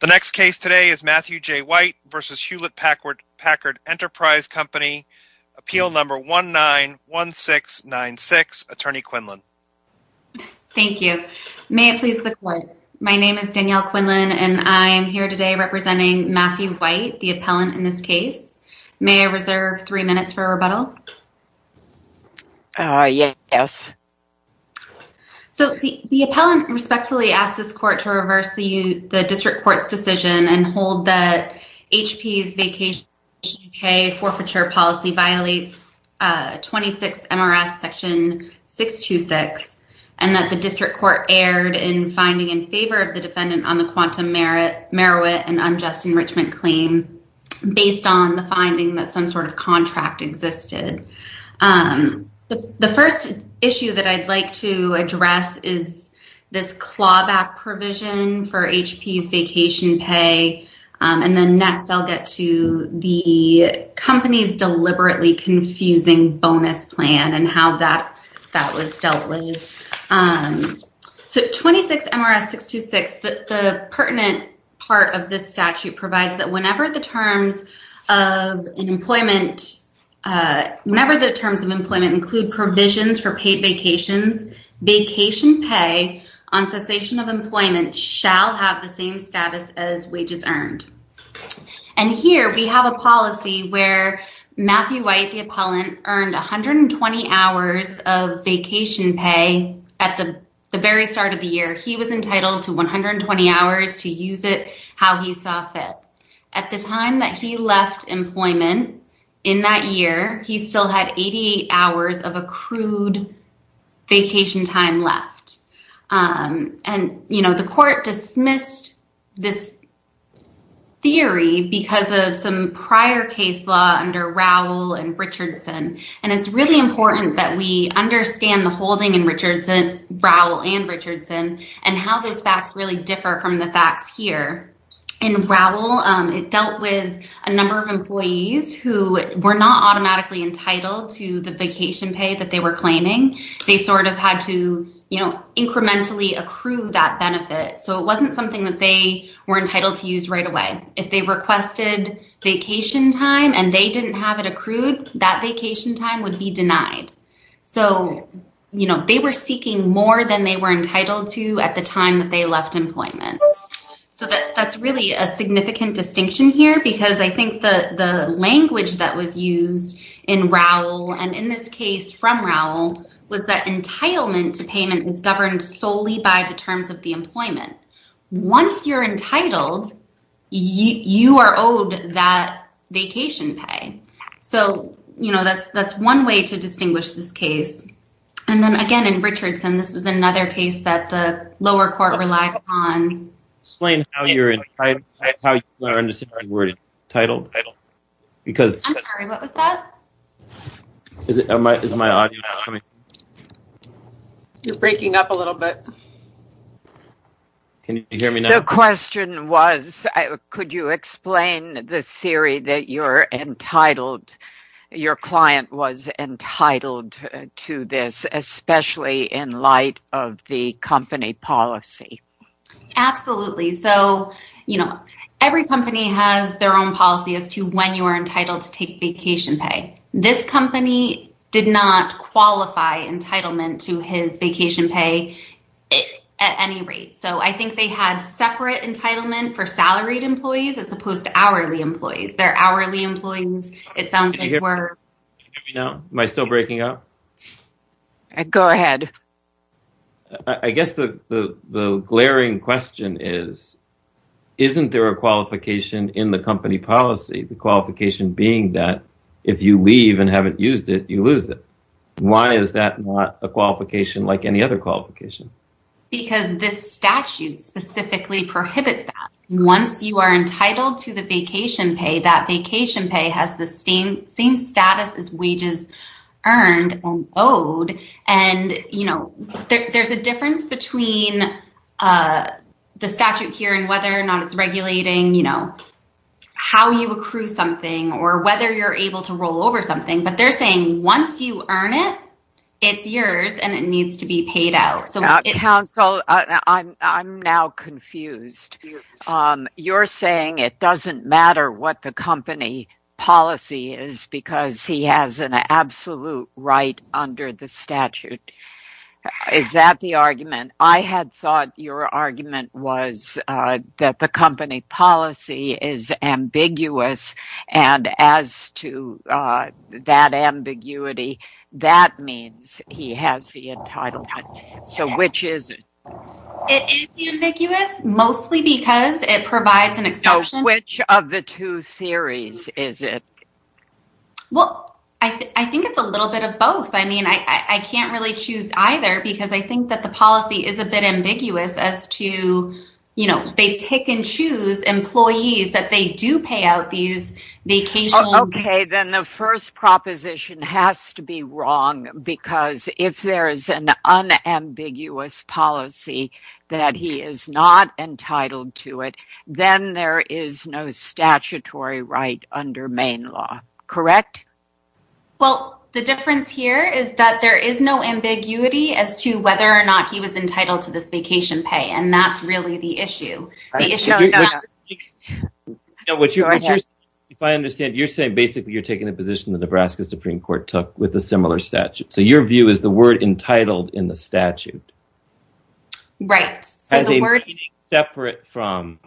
The next case today is Matthew J. White v. Hewlett Packard Enterprise Company, appeal number 191696. Attorney Quinlan. Thank you. May it please the court. My name is Danielle Quinlan and I am here today representing Matthew White, the appellant in this case. May I reserve three minutes for rebuttal? Yes. So the appellant respectfully asks this court to and hold that HP's vacation pay forfeiture policy violates 26 MRS section 626 and that the district court erred in finding in favor of the defendant on the quantum merit merit and unjust enrichment claim based on the finding that some sort of contract existed. The first issue that I'd like to address is this clawback provision for HP's vacation pay. And then next I'll get to the company's deliberately confusing bonus plan and how that was dealt with. So 26 MRS 626, the pertinent part of this statute provides that whenever the terms in employment, whenever the terms of employment include provisions for paid vacations, vacation pay on cessation of employment shall have the same status as wages earned. And here we have a policy where Matthew White, the appellant, earned 120 hours of vacation pay at the very start of the year. He was entitled to 120 hours to use it how he saw fit. At the time that he left employment in that year, he still had 88 hours of accrued vacation time left. And the court dismissed this theory because of some prior case law under Rowell and Richardson. And it's really important that we understand the holding in Rowell and Richardson and how these facts really differ from the facts here. In Rowell, it dealt with a number of employees who were not automatically entitled to the vacation pay that they were claiming. They sort of had to incrementally accrue that benefit. So it wasn't something that they were entitled to use right away. If they requested vacation time and they didn't have it accrued, that vacation time would be denied. So, you know, they were seeking more than they were entitled to at the time that they left employment. So that's really a significant distinction here because I think the language that was used in Rowell and in this case from Rowell was that entitlement to payment is governed solely by the terms of the employment. Once you're entitled, you are owed that vacation pay. So, you know, that's one way to distinguish this case. And then again, in Richardson, this was another case that the lower court relied on. Explain how you're entitled. I'm sorry, what was that? Is my audio coming? You're breaking up a little bit. The question was, could you explain the theory that your client was entitled to this, especially in light of the company policy? Absolutely. So, you know, every company has their own policy as to when you are entitled to take vacation pay. This company did not at any rate. So I think they had separate entitlement for salaried employees as opposed to hourly employees. They're hourly employees. It sounds like we're. Am I still breaking up? Go ahead. I guess the glaring question is, isn't there a qualification in the company policy, the qualification being that if you leave and haven't used it, you lose it? Why is that not a qualification like any other qualification? Because this statute specifically prohibits that once you are entitled to the vacation pay, that vacation pay has the same status as wages earned and owed. And, you know, there's a difference between the statute here and whether or not it's regulating, you know, how you accrue something or whether you're able to roll over something. But they're saying once you earn it, it's yours and it needs to be paid out. So counsel, I'm now confused. You're saying it doesn't matter what the company policy is because he has an absolute right under the statute. Is that the argument? I had thought your argument was that the company policy is ambiguous. And as to that ambiguity, that means he has the entitlement. So which is it? It is ambiguous, mostly because it provides an exception. Which of the two theories is it? Well, I think it's a little bit of both. I mean, I can't really choose either because I think that policy is a bit ambiguous as to, you know, they pick and choose employees that they do pay out these vacations. Okay, then the first proposition has to be wrong because if there is an unambiguous policy that he is not entitled to it, then there is no statutory right under Maine law, correct? Well, the difference here is that there is no ambiguity as to whether or not he was entitled to this vacation pay. And that's really the issue. If I understand, you're saying basically you're taking a position that Nebraska Supreme Court took with a similar statute. So your view is the word entitled in the statute. Right. So the word is separate from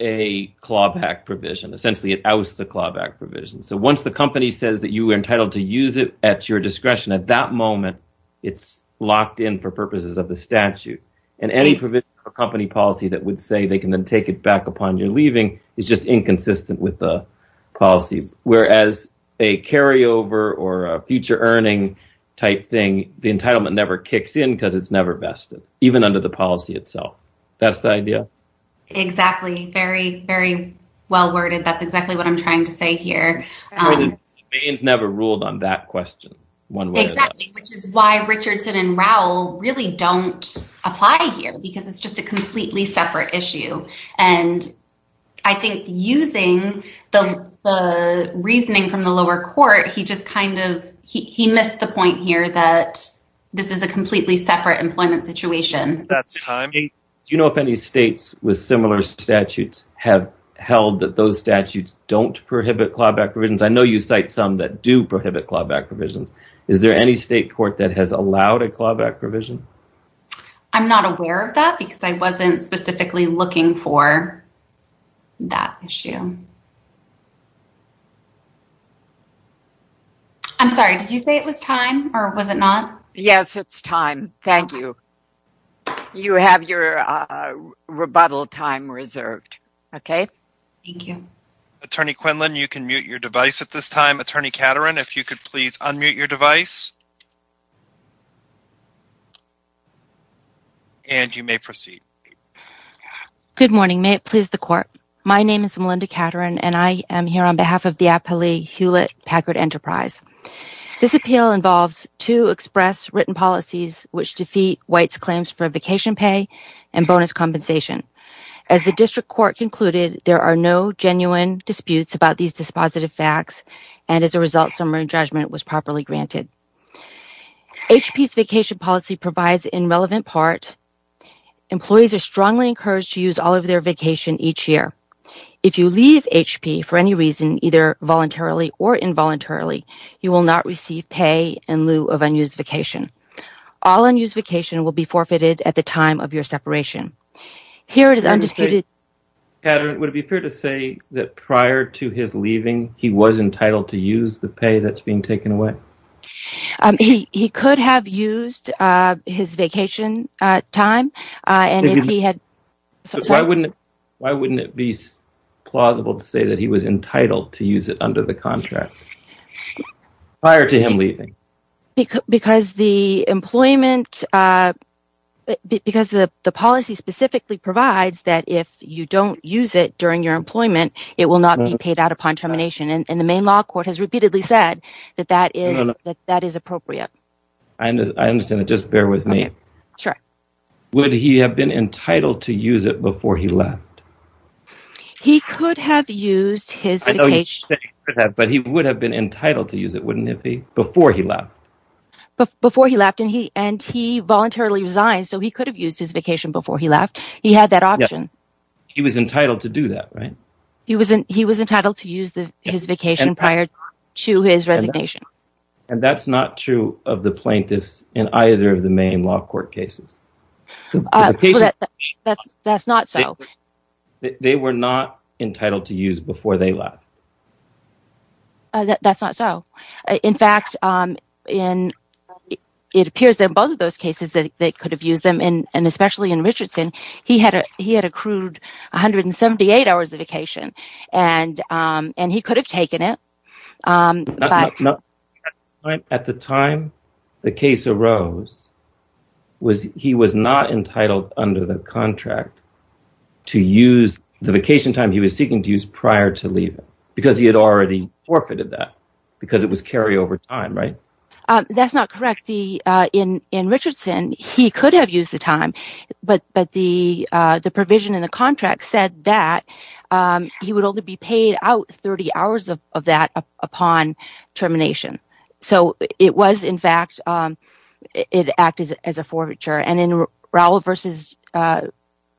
a clawback provision. Essentially, it was the clawback provision. So once the company says that you were entitled to use it at your discretion at that moment, it's locked in for purposes of the statute and any provision of company policy that would say they can then take it back upon your leaving is just inconsistent with the policies. Whereas a carryover or a future earning type thing, the entitlement never kicks in because it's never vested, even under the policy itself. That's the idea. Exactly. Very, very well worded. That's exactly what I'm trying to say here. Maine's never ruled on that question. Exactly, which is why Richardson and Rowell really don't apply here because it's just a completely separate issue. And I think using the reasoning from the lower court, he just kind of he missed the point here that this is a completely separate employment situation. Do you know if any states with similar statutes have held that those statutes don't prohibit clawback provisions? I know you cite some that do prohibit clawback provisions. Is there any state court that has allowed a clawback provision? I'm not aware of that because I wasn't specifically looking for that issue. I'm sorry, did you say it was time or was it not? Yes, it's time. Thank you. You have your rebuttal time reserved. Okay. Thank you. Attorney Quinlan, you can mute your device at this time. Attorney Caterin, if you could please unmute your device. And you may proceed. Good morning. May it please the court. My name is Melinda Caterin and I to express written policies which defeat White's claims for vacation pay and bonus compensation. As the district court concluded, there are no genuine disputes about these dispositive facts and as a result, summary judgment was properly granted. HP's vacation policy provides in relevant part. Employees are strongly encouraged to use all of their vacation each year. If you leave HP for any reason, either voluntarily or involuntarily, you will not receive pay in lieu of unused vacation. All unused vacation will be forfeited at the time of your separation. Here it is undisputed. Caterin, would it be fair to say that prior to his leaving, he was entitled to use the pay that's being taken away? He could have used his vacation time. Why wouldn't it be plausible to say that he was entitled to use it under the contract prior to him leaving? Because the policy specifically provides that if you don't use it during your employment, it will not be paid out upon termination and the main law court repeatedly said that is appropriate. Would he have been entitled to use it before he left? He could have used his vacation before he left and he voluntarily resigned, so he could have used his vacation before he left. He had that option. He was entitled to do that, right? He was entitled to use his vacation prior to his resignation. And that's not true of the plaintiffs in either of the main law court cases? That's not so. They were not entitled to use before they left? That's not so. In fact, it appears that both of those cases, they could have used them and especially in Richardson, he had accrued 178 hours of vacation and he could have taken it. At the time the case arose, he was not entitled under the contract to use the vacation time he was seeking to use prior to leaving because he had already forfeited that because it was carryover time, right? That's not correct. In Richardson, he could have used the time, but the provision in the contract said that he would only be paid out 30 hours of that upon termination. So it was in fact, it acted as a forfeiture. And in Rowell v.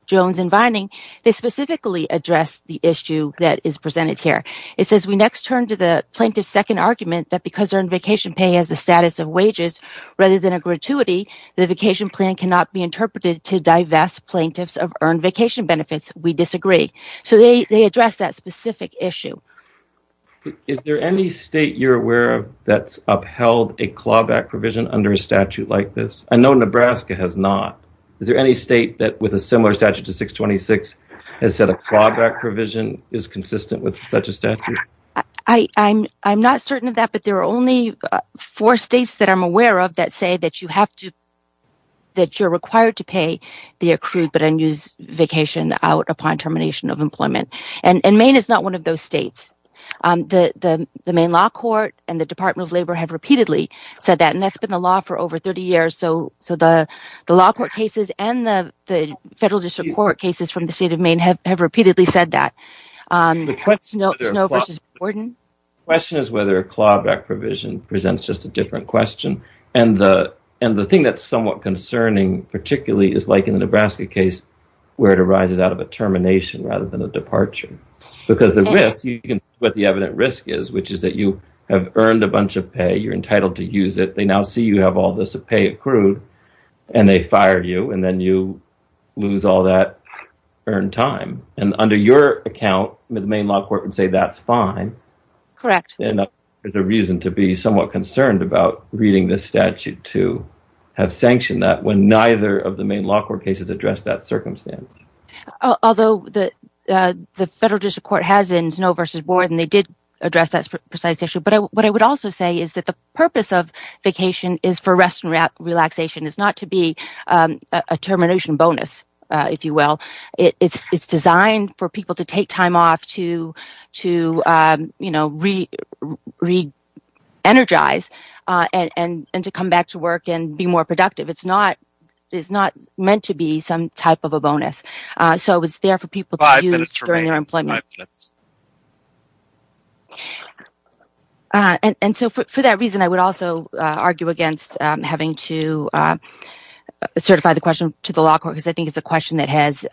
Jones and Vining, they specifically addressed the issue that is presented here. It says, we next turn to the plaintiff's second argument that because their vacation pay has the plan cannot be interpreted to divest plaintiffs of earned vacation benefits, we disagree. So they address that specific issue. Is there any state you're aware of that's upheld a clawback provision under a statute like this? I know Nebraska has not. Is there any state that with a similar statute to 626 has said a clawback provision is consistent with such a statute? I'm not certain of that, but there are only four states that I'm aware of that say that you have to that you're required to pay the accrued but unused vacation out upon termination of employment. And Maine is not one of those states. The Maine law court and the Department of Labor have repeatedly said that, and that's been the law for over 30 years. So the law court cases and the federal district court cases from the state of Maine have repeatedly said that. The question is whether a clawback provision presents just a different question. And the thing that's somewhat concerning particularly is like in the Nebraska case where it arises out of a termination rather than a departure. Because the risk, what the evident risk is, which is that you have earned a bunch of pay, you're entitled to use it, they now see you have all this pay accrued, and they fire you, and then you lose all that earned time. And under your account, the Maine law court would say that's fine. Correct. And there's a reason to be somewhat to have sanctioned that when neither of the Maine law court cases address that circumstance. Although the federal district court has in snow versus board, and they did address that precise issue. But what I would also say is that the purpose of vacation is for rest and relaxation is not to be a termination bonus, if you will. It's designed for people to take time off to, you know, re-energize and to come back to work and be more productive. It's not meant to be some type of a bonus. So it was there for people to use during their employment. And so for that reason, I would also argue against having to certify the question to the law because I think it's a question that has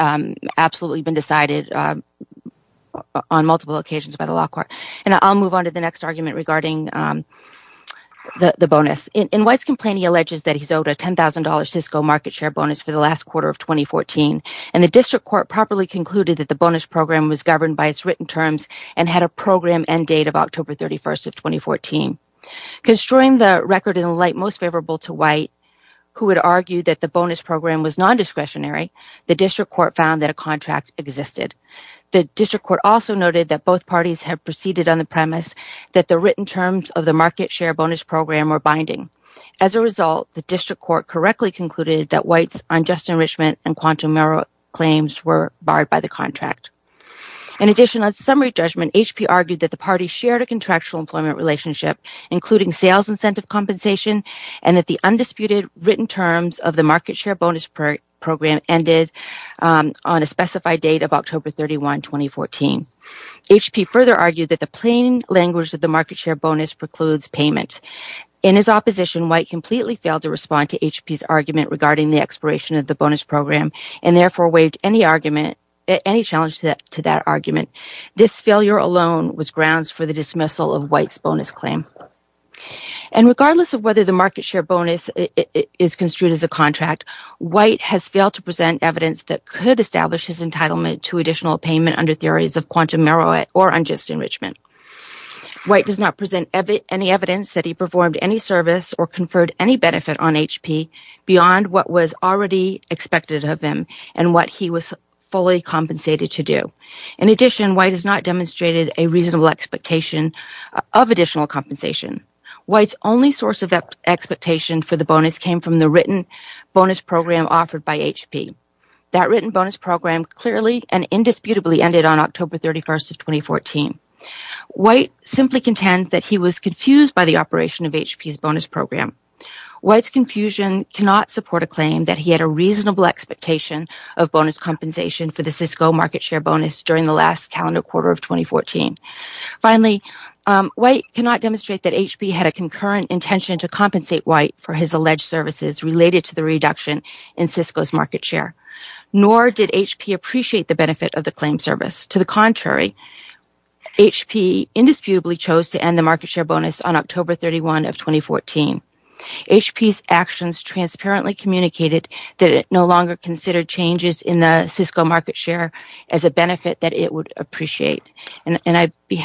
absolutely been decided on multiple occasions by the law court. And I'll move on to the next argument regarding the bonus. In White's complaint, he alleges that he's owed a $10,000 Cisco market share bonus for the last quarter of 2014. And the district court properly concluded that the bonus program was governed by its written terms and had a program and date of October 31st of 2014. Construing the record in the light most favorable to White, who had argued that the bonus program was non-discretionary, the district court found that a contract existed. The district court also noted that both parties had proceeded on the premise that the written terms of the market share bonus program were binding. As a result, the district court correctly concluded that White's unjust enrichment and quantum error claims were barred by the contract. In addition, on summary judgment, HP argued that the party shared a contractual employment relationship, including sales incentive compensation, and that the undisputed written terms of the market share bonus program ended on a specified date of October 31, 2014. HP further argued that the plain language of the market share bonus precludes payment. In his opposition, White completely failed to respond to HP's argument regarding the expiration of the bonus program and therefore waived any argument, any challenge to that argument. This failure alone was grounds for the dismissal of White's bonus claim. Regardless of whether the market share bonus is construed as a contract, White has failed to present evidence that could establish his entitlement to additional payment under theories of quantum error or unjust enrichment. White does not present any evidence that he performed any service or conferred any benefit on HP beyond what was already expected of him and what he was fully compensated to do. In addition, White has not demonstrated a reasonable expectation of additional compensation. White's only source of expectation for the bonus came from the written bonus program offered by HP. That written bonus program clearly and indisputably ended on October 31, 2014. White simply contends that he was confused by the operation of HP's bonus program. White's confusion cannot support a claim that he had a reasonable expectation of bonus compensation for the Cisco market share bonus during the last calendar quarter of 2014. Finally, White cannot demonstrate that HP had a concurrent intention to compensate White for his alleged services related to the reduction in Cisco's market share, nor did HP appreciate the benefit of the claim service. To the contrary, HP indisputably chose to end the market share bonus on October 31, 2014. HP's actions transparently communicated that it no longer considered changes in the Cisco market share as a benefit that it would appreciate. I'd like to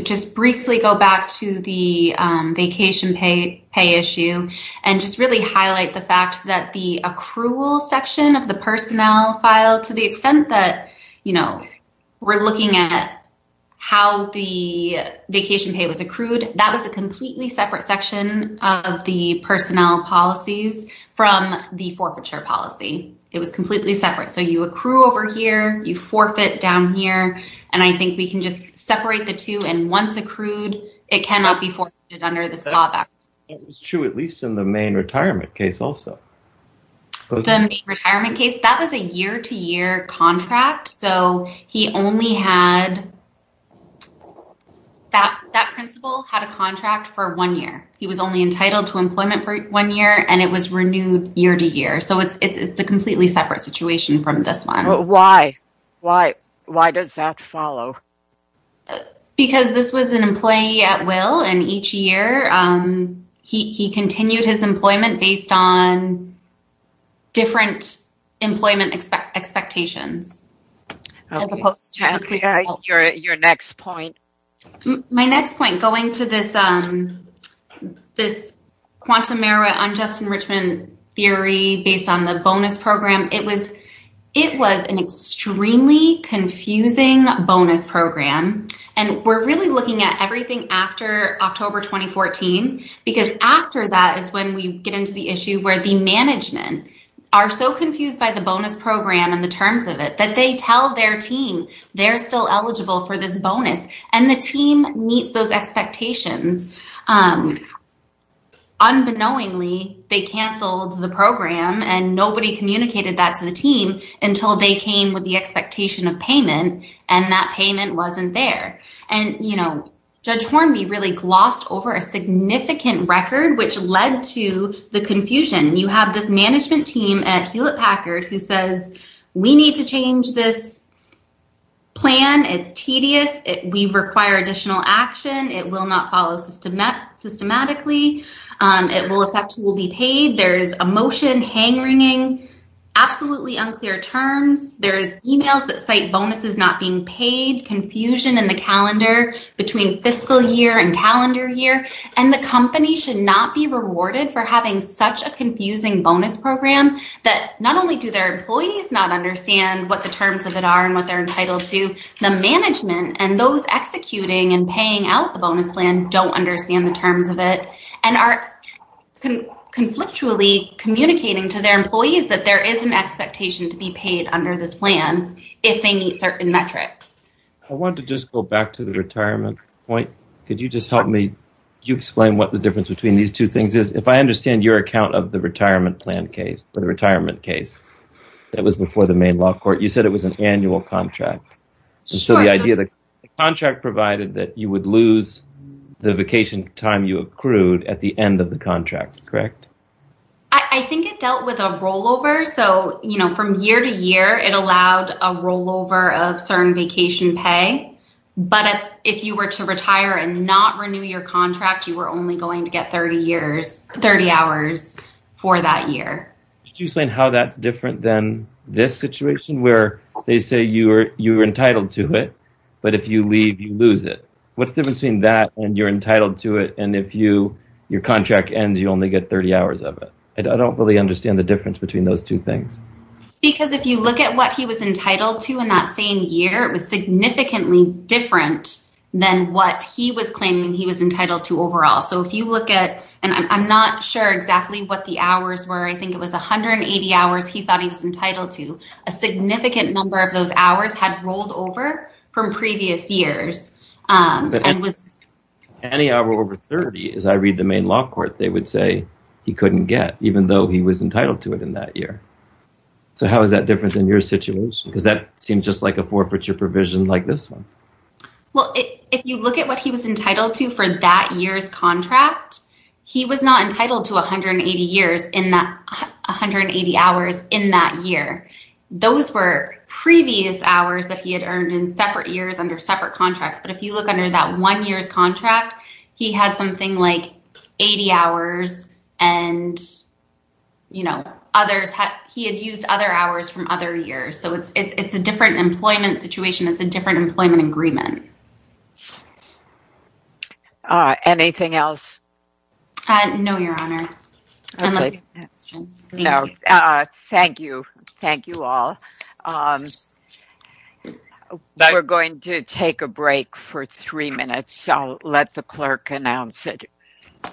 just briefly go back to the vacation pay issue and just really highlight the fact that the accrual section of the personnel file, to the extent that we're looking at how the vacation pay was accrued, that was a completely separate section of the personnel policies from the forfeiture policy. It was completely separate. You accrue over here, you forfeit down here, and I think we can just separate the two, and once accrued, it cannot be forfeited under this callback. That was true, at least in the main retirement case also. The main retirement case, that was a year-to-year contract. That principal had a contract for one year. He was only entitled to employment for one year, and it was renewed year-to-year. It's a completely separate situation from this one. Why? Why does that follow? Because this was an employee at will, and each year, he continued his employment based on different employment expectations. As opposed to your next point. My next point, going to this quantum merit unjust enrichment theory based on the bonus program, it was an extremely confusing bonus program. We're really looking at everything after October 2014, because after that is when we get into the issue where the management are so confused by the bonus program and the terms of it that they tell their team they're still eligible for this bonus, and the team meets those unknowingly. They canceled the program, and nobody communicated that to the team until they came with the expectation of payment, and that payment wasn't there. Judge Hornby really glossed over a significant record, which led to the confusion. You have this management team at Hewlett-Packard who says, we need to change this plan. It's tedious. We require additional action. It will not follow systematically. It will affect who will be paid. There's emotion, hang-wringing, absolutely unclear terms. There's emails that cite bonuses not being paid, confusion in the calendar between fiscal year and calendar year, and the company should not be rewarded for having such a confusing bonus program that not only do their employees not understand what the terms of it are and what they're entitled to, the management and those executing and paying out the bonus plan don't understand the terms of it and are conflictually communicating to their employees that there is an expectation to be paid under this plan if they meet certain metrics. I want to just go back to the retirement point. Could you just help me? You explain what the difference between these two things is. If I understand your account of the retirement plan case that was before the Maine Law Court, you said it was an annual contract. The idea of the contract provided that you would lose the vacation time you accrued at the end of the contract, correct? I think it dealt with a rollover. From year to year, it allowed a rollover of certain vacation pay, but if you were to retire and not renew your contract, you were only going to get 30 hours for that year. Could you explain how that's different than this situation where they say you're entitled to it, but if you leave, you lose it? What's the difference between that and you're entitled to it, and if your contract ends, you only get 30 hours of it? I don't really understand the difference between those two things. Because if you look at what he was entitled to in that same year, it was significantly different than what he was claiming he was entitled to overall. I'm not sure exactly what the hours were. I think it was 180 hours he thought he was entitled to. A significant number of those hours had rolled over from previous years. Any hour over 30, as I read the Maine Law Court, they would say he couldn't get, even though he was entitled to it in that year. How is that different than your situation? Because that seems just like a forfeiture provision like this one. If you look at what he was entitled to for that year's contract, he was not entitled to 180 hours in that year. Those were previous hours that he had earned in separate years under separate contracts. But if you look under that one year's contract, he had something like 80 hours, and he had used other hours from other years. So, it's a different employment situation. It's a different employment agreement. Anything else? No, Your Honor. Thank you. Thank you all. We're going to take a break for three minutes. I'll let the clerk announce it.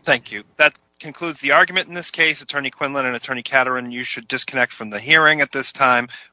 Thank you. That concludes the argument in this case. Attorney Quinlan and Attorney Katerin, you should disconnect from the hearing at this time.